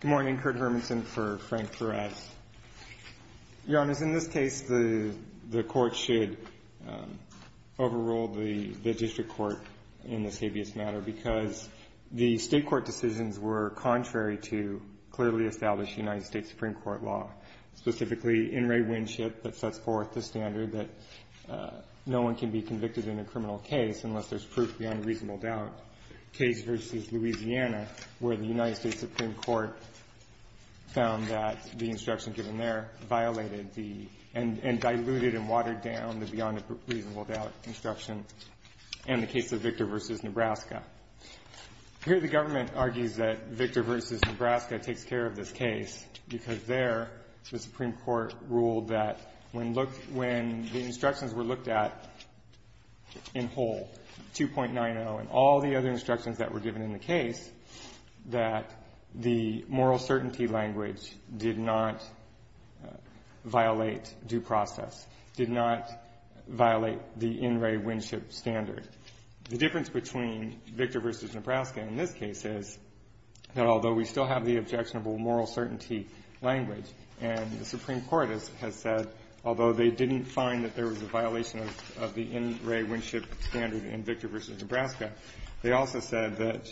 Good morning. Kurt Hermanson for Frank Perez. Your Honors, in this case, the Court should overrule the District Court in this habeas matter because the State Court decisions were contrary to clearly established United States Supreme Court law, specifically In re Winship that sets forth the standard that no one can be convicted in a criminal case unless there's proof beyond reasonable doubt. Case v. Louisiana, where the United States Supreme Court found that the instruction given there violated the and diluted and watered down the beyond reasonable doubt instruction and the case of Victor v. Nebraska. Here the government argues that Victor v. Nebraska takes care of this case because there the Supreme Court ruled that when the instructions were looked at in whole, 2.90 and all the other instructions that were given in the case, that the moral certainty language did not violate due process, did not violate the in re Winship standard. The difference between Victor v. Nebraska in this case is that although we still have the objectionable moral certainty language and the Supreme Court has said, although they didn't find that there was a violation of the in re Winship standard in Victor v. Nebraska, they also said that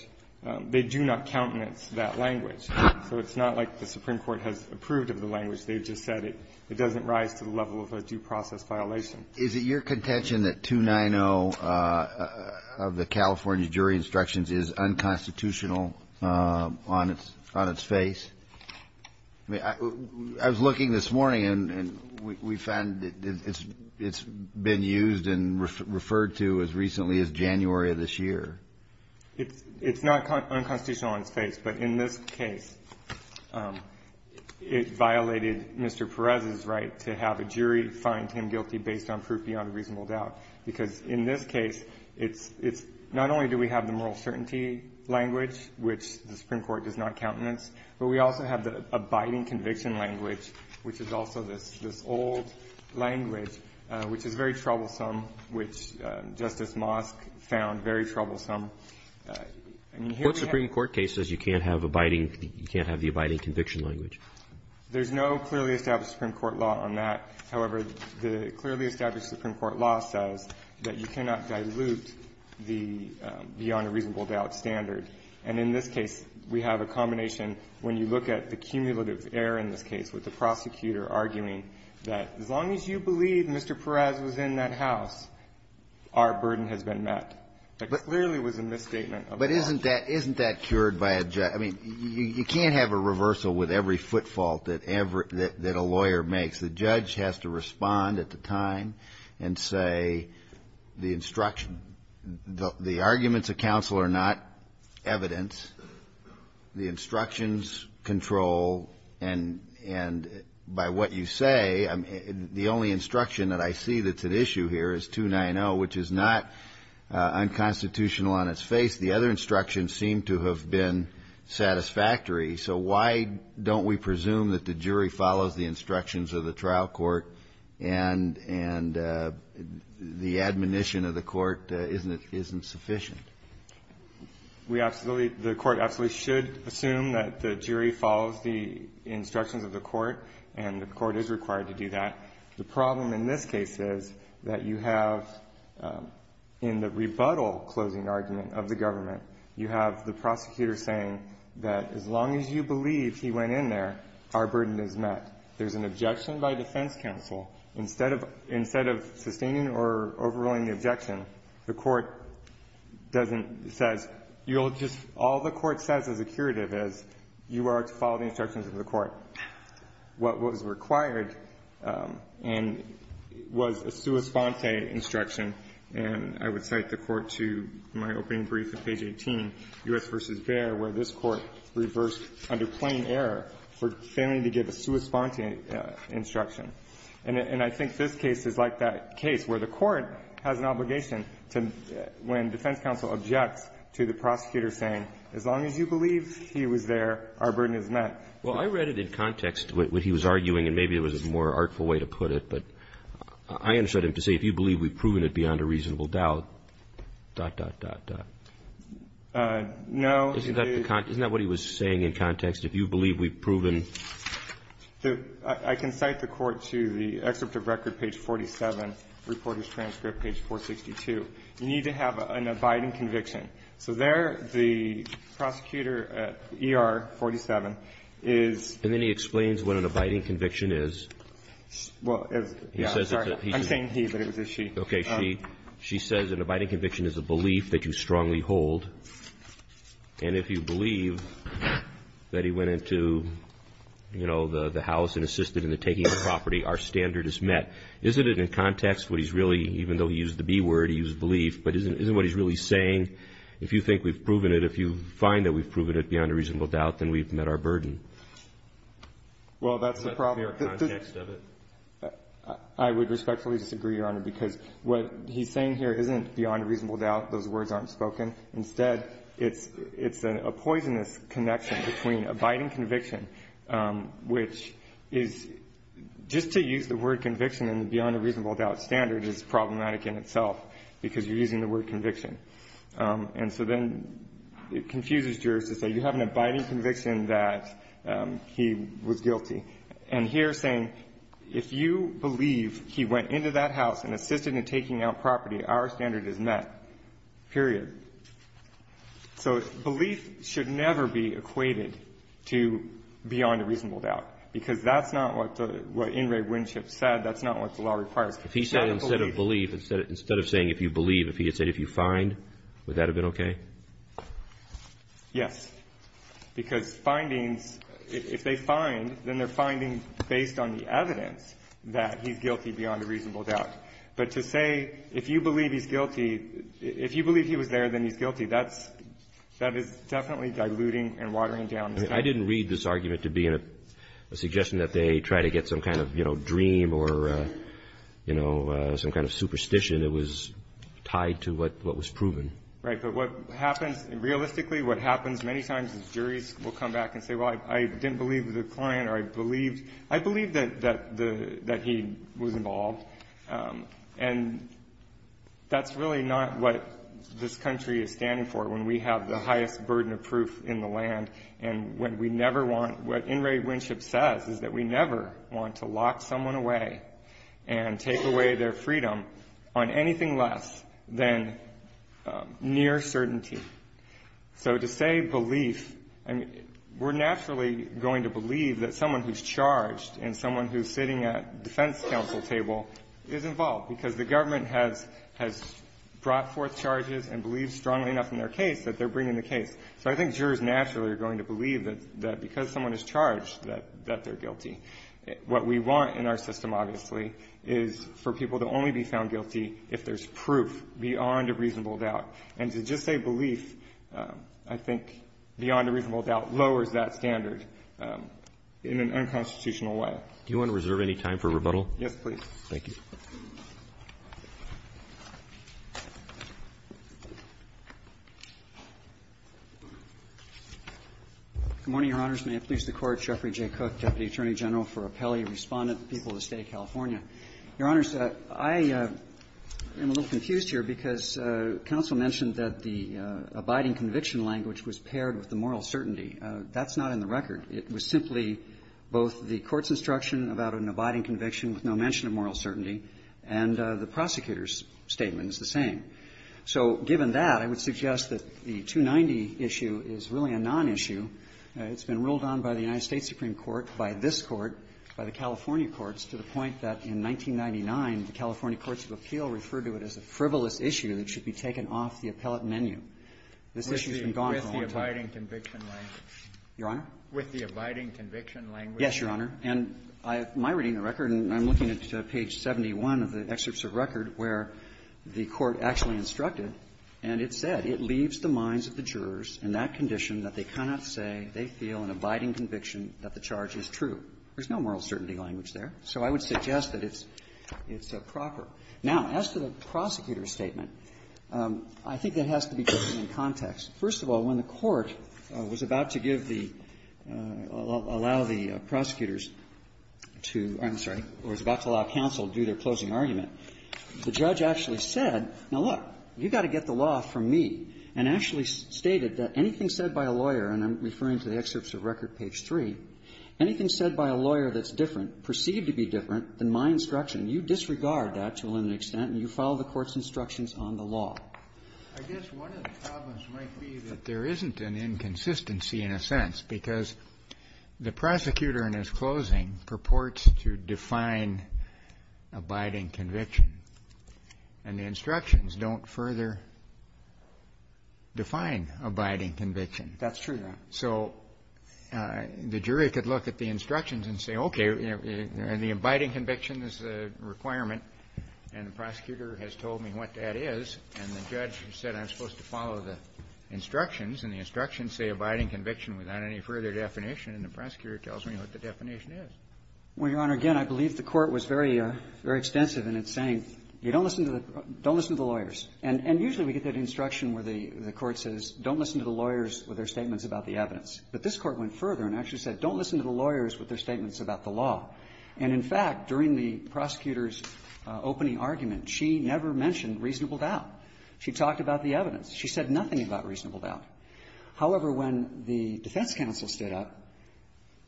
they do not countenance that language. So it's not like the Supreme Court has approved of the language. They've just said it doesn't rise to the level of a due process violation. Is it your contention that 2.90 of the California jury instructions is unconstitutional on its face? I was looking this morning and we found that it's been used and referred to as recently as January of this year. It's not unconstitutional on its face, but in this case it violated Mr. Perez's right to have a jury find him guilty based on proof beyond reasonable doubt. Because in this case, it's not only do we have the moral certainty language, which the Supreme Court does not countenance, but we also have the abiding conviction language, which is also this old language, which is very troublesome, which Justice Mosk found very troublesome. What Supreme Court case says you can't have abiding, you can't have the abiding conviction language? There's no clearly established Supreme Court law on that. However, the clearly established Supreme Court law says that you cannot dilute the beyond a reasonable doubt standard. And in this case, we have a combination when you look at the cumulative error in this case with the prosecutor arguing that as long as you believe Mr. Perez was in that house, our burden has been met. That clearly was a misstatement of the law. But isn't that cured by a judge? I mean, you can't have a reversal with every foot fault that a lawyer makes. The judge has to respond at the time and say the instruction. The arguments of counsel are not evidence. The instructions control. And by what you say, the only instruction that I see that's at issue here is 290, which is not unconstitutional on its face. The other instructions seem to have been satisfactory. So why don't we presume that the jury follows the instructions of the trial court and the admonition of the court isn't sufficient? We absolutely, the court absolutely should assume that the jury follows the instructions of the court and the court is required to do that. The problem in this case is that you have in the rebuttal closing argument of the government, you have the prosecutor saying that as long as you believe he went in there, our burden is met. There's an objection by defense counsel. Instead of sustaining or overruling the objection, the court doesn't, says, you'll just, all the court says as a curative is you are to follow the instructions of the court. What was required and was a sua sponte instruction, and I would cite the court to my opening brief at page 18, U.S. v. Baer, where this Court reversed under plain error for failing to give a sua sponte instruction. And I think this case is like that case where the court has an obligation to, when defense counsel objects to the prosecutor saying as long as you believe he was there, our burden is met. Well, I read it in context, what he was arguing, and maybe there was a more artful way to put it, but I understood him to say if you believe we've proven it beyond a reasonable doubt, dot, dot, dot, dot. No. Isn't that what he was saying in context, if you believe we've proven? I can cite the court to the excerpt of record, page 47, reporter's transcript, page 462. You need to have an abiding conviction. So there the prosecutor at ER 47 is. And then he explains what an abiding conviction is. Well, I'm sorry. I'm saying he, but it was a she. Okay. She says an abiding conviction is a belief that you strongly hold, and if you believe that he went into, you know, the house and assisted in the taking of the property, our standard is met. Isn't it in context what he's really, even though he used the B word, he used belief, but isn't what he's really saying? If you think we've proven it, if you find that we've proven it beyond a reasonable doubt, then we've met our burden. Well, that's the problem. Is that the pure context of it? I would respectfully disagree, Your Honor, because what he's saying here isn't beyond a reasonable doubt. Those words aren't spoken. Instead, it's a poisonous connection between abiding conviction, which is just to use the word conviction in the beyond a reasonable doubt standard is problematic in itself, because you're using the word conviction. And so then it confuses jurors to say you have an abiding conviction that he was guilty. And here saying if you believe he went into that house and assisted in taking out property, our standard is met, period. So belief should never be equated to beyond a reasonable doubt, because that's not what the In re Winship said. That's not what the law requires. If he said instead of belief, instead of saying if you believe, if he had said if you find, would that have been okay? Yes, because findings, if they find, then they're finding based on the evidence that he's guilty beyond a reasonable doubt. But to say if you believe he's guilty, if you believe he was there, then he's guilty, that is definitely diluting and watering down. I didn't read this argument to be a suggestion that they try to get some kind of, you know, some kind of superstition. It was tied to what was proven. Right. But what happens, realistically what happens many times is juries will come back and say, well, I didn't believe the client or I believed, I believed that he was involved. And that's really not what this country is standing for when we have the highest burden of proof in the land and when we never want, what In re Winship says is that we never want to lock someone away and take away their freedom on anything less than near certainty. So to say belief, I mean, we're naturally going to believe that someone who's charged and someone who's sitting at defense counsel table is involved because the government has brought forth charges and believes strongly enough in their case that they're bringing the case. So I think jurors naturally are going to believe that because someone is charged that they're guilty. What we want in our system, obviously, is for people to only be found guilty if there's proof beyond a reasonable doubt. And to just say belief, I think beyond a reasonable doubt lowers that standard in an unconstitutional way. Do you want to reserve any time for rebuttal? Yes, please. Good morning, Your Honors. May it please the Court. Jeffrey J. Cook, Deputy Attorney General for Appellee Respondent, People of the State of California. Your Honors, I am a little confused here because counsel mentioned that the abiding conviction language was paired with the moral certainty. That's not in the record. It was simply both the court's instruction about an abiding conviction with no mention of moral certainty, and the prosecutor's statement is the same. So given that, I would suggest that the 290 issue is really a nonissue. It's been ruled on by the United States Supreme Court, by this Court, by the California courts, to the point that in 1999, the California Courts of Appeal referred to it as a frivolous issue that should be taken off the appellate menu. This issue has been gone for a long time. With the abiding conviction language. Your Honor? With the abiding conviction language. Yes, Your Honor. And my reading of the record, and I'm looking at page 71 of the excerpts of record where the Court actually instructed, and it said, It leaves the minds of the jurors in that condition that they cannot say they feel an abiding conviction that the charge is true. There's no moral certainty language there. So I would suggest that it's proper. Now, as to the prosecutor's statement, I think that has to be taken in context. First of all, when the Court was about to give the or allow the prosecutors to or I'm sorry, was about to allow counsel to do their closing argument, the judge actually said, now, look, you've got to get the law from me, and actually stated that anything said by a lawyer, and I'm referring to the excerpts of record, page 3, anything said by a lawyer that's different, perceived to be different, than my instruction, you disregard that to a limited extent and you follow the Court's instructions on the law. I guess one of the problems might be that there isn't an inconsistency in a sense, because the prosecutor in his closing purports to define abiding conviction, and the instructions don't further define abiding conviction. That's true, Your Honor. So the jury could look at the instructions and say, okay, and the abiding conviction is a requirement, and the prosecutor has told me what that is, and the judge said I'm supposed to follow the instructions, and the instructions say abiding conviction without any further definition, and the prosecutor tells me what the definition is. Well, Your Honor, again, I believe the Court was very extensive in its saying, don't listen to the lawyers. And usually we get that instruction where the Court says, don't listen to the lawyers with their statements about the evidence. But this Court went further and actually said, don't listen to the lawyers with their statements about the law. And, in fact, during the prosecutor's opening argument, she never mentioned reasonable doubt. She talked about the evidence. She said nothing about reasonable doubt. However, when the defense counsel stood up,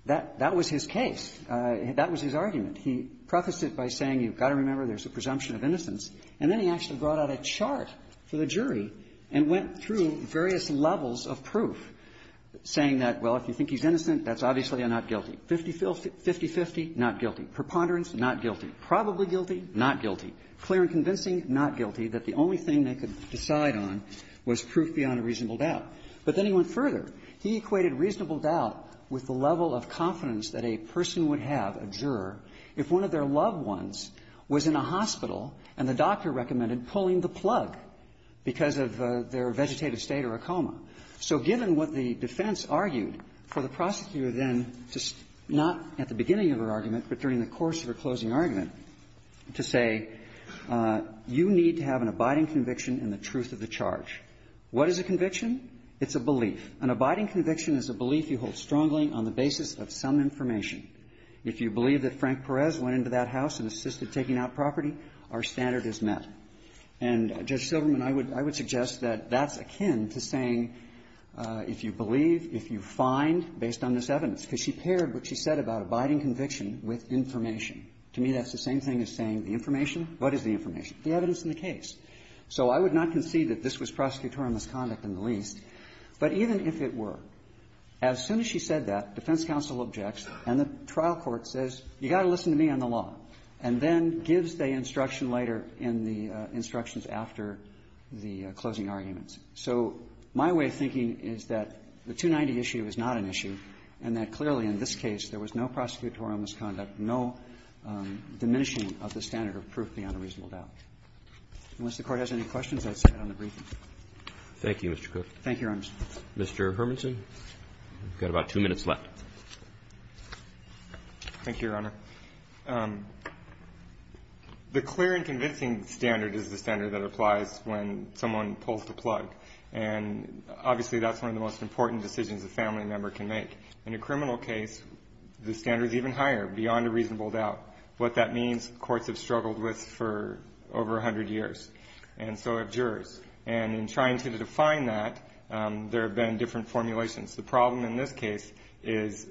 that was his case. That was his argument. He prefaced it by saying, you've got to remember there's a presumption of innocence. And then he actually brought out a chart for the jury and went through various levels of proof, saying that, well, if you think he's innocent, that's obviously a not guilty. Fifty-fifty, not guilty. Preponderance, not guilty. Probably guilty, not guilty. Clear and convincing, not guilty, that the only thing they could decide on was proof beyond a reasonable doubt. But then he went further. He equated reasonable doubt with the level of confidence that a person would have, a juror, if one of their loved ones was in a hospital and the doctor recommended pulling the plug because of their vegetative state or a coma. So given what the defense argued, for the prosecutor then to not at the beginning of her argument, but during the course of her closing argument, to say, you need to have an abiding conviction in the truth of the charge. What is a conviction? It's a belief. An abiding conviction is a belief you hold strongly on the basis of some information. If you believe that Frank Perez went into that house and assisted taking out property, our standard is met. And, Judge Silverman, I would suggest that that's akin to saying, if you believe, if you find, based on this evidence, because she paired what she said about abiding conviction with information. To me, that's the same thing as saying the information, what is the information? The evidence in the case. So I would not concede that this was prosecutorial misconduct in the least, but even if it were, as soon as she said that, defense counsel objects and the trial court says, you've got to listen to me on the law, and then gives the instruction later in the instructions after the closing arguments. So my way of thinking is that the 290 issue is not an issue, and that clearly in this case, there was no prosecutorial misconduct, no diminishing of the standard of proof beyond a reasonable doubt. Unless the Court has any questions, I'd say that on the briefing. Roberts. Thank you, Mr. Cook. Thank you, Your Honor. Mr. Hermanson, you've got about two minutes left. Thank you, Your Honor. The clear and convincing standard is the standard that applies when someone pulls the plug. And obviously, that's one of the most important decisions a family member can make. In a criminal case, the standard is even higher, beyond a reasonable doubt. What that means, courts have struggled with for over 100 years, and so have jurors. And in trying to define that, there have been different formulations. The problem in this case is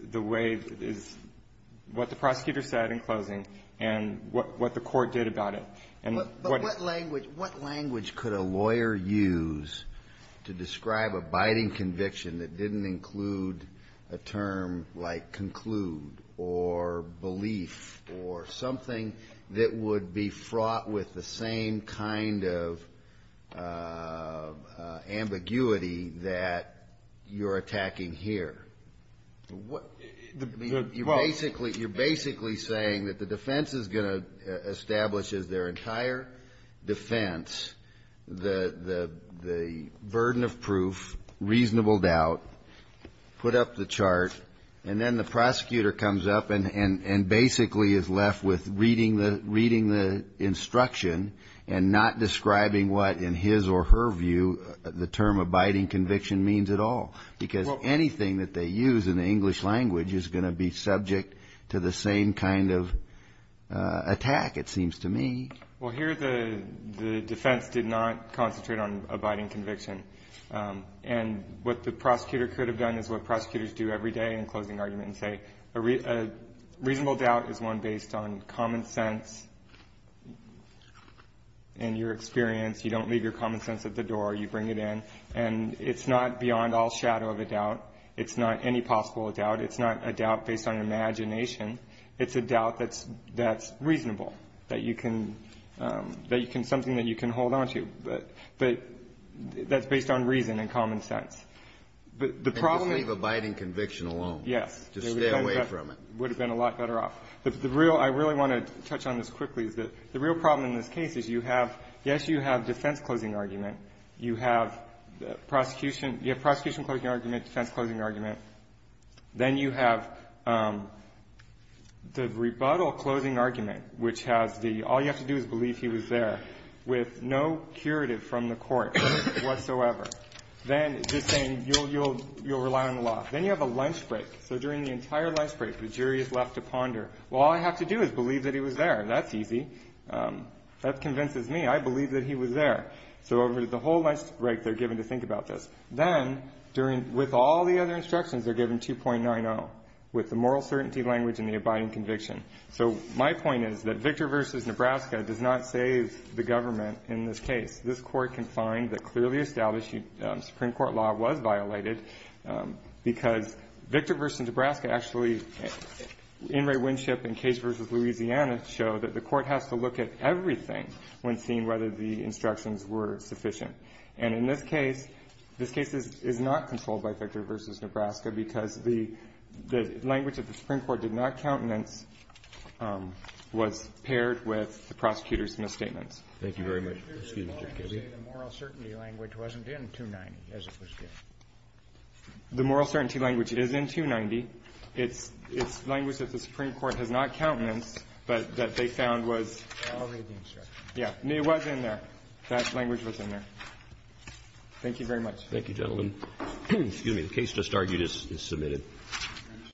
what the prosecutor said in closing, and what the court did about it. But what language could a lawyer use to describe a biting conviction that didn't include a term like conclude, or belief, or something that would be fraught with the same kind of ambiguity that you're attacking here? You're basically saying that the defense is going to establish as their entire defense the burden of proof, reasonable doubt, put up the chart, and then the prosecutor comes up and basically is left with reading the instruction, and not describing what, in his or her view, the term abiding conviction means at all. Because anything that they use in the English language is going to be subject to the same kind of attack, it seems to me. Well, here the defense did not concentrate on abiding conviction. And what the prosecutor could have done is what prosecutors do every day in closing argument and say, a reasonable doubt is one based on common sense and your experience. You don't leave your common sense at the door. You bring it in. And it's not beyond all shadow of a doubt. It's not any possible doubt. It's not a doubt based on imagination. It's a doubt that's reasonable, that you can, something that you can hold on to. But that's based on reason and common sense. But the problem- And just leave abiding conviction alone. Yes. Just stay away from it. It would have been a lot better off. The real, I really want to touch on this quickly, is that the real problem in this case is you have, yes, you have defense closing argument. You have prosecution, you have prosecution closing argument, defense closing argument. Then you have the rebuttal closing argument, which has the, all you have to do is believe he was there, with no curative from the court whatsoever. Then just saying, you'll rely on the law. Then you have a lunch break. So during the entire lunch break, the jury is left to ponder, well, all I have to do is believe that he was there. That's easy. That convinces me. I believe that he was there. So over the whole lunch break, they're given to think about this. Then, with all the other instructions, they're given 2.90, with the moral certainty language and the abiding conviction. So my point is that Victor versus Nebraska does not save the government in this case. This Court can find that clearly establishing Supreme Court law was violated, because Victor versus Nebraska actually, In re Winship and Cage versus Louisiana show that the court has to look at everything when seeing whether the instructions were sufficient. And in this case, this case is not controlled by Victor versus Nebraska, because the language of the Supreme Court did not countenance, was paired with the prosecutor's misstatements. Thank you very much. Excuse me, Judge Kennedy. The moral certainty language wasn't in 2.90, as it was given. The moral certainty language is in 2.90. It's language that the Supreme Court has not countenanced, but that they found was already in there. That language was in there. Thank you very much. Thank you, gentlemen. Excuse me. The case just argued is submitted.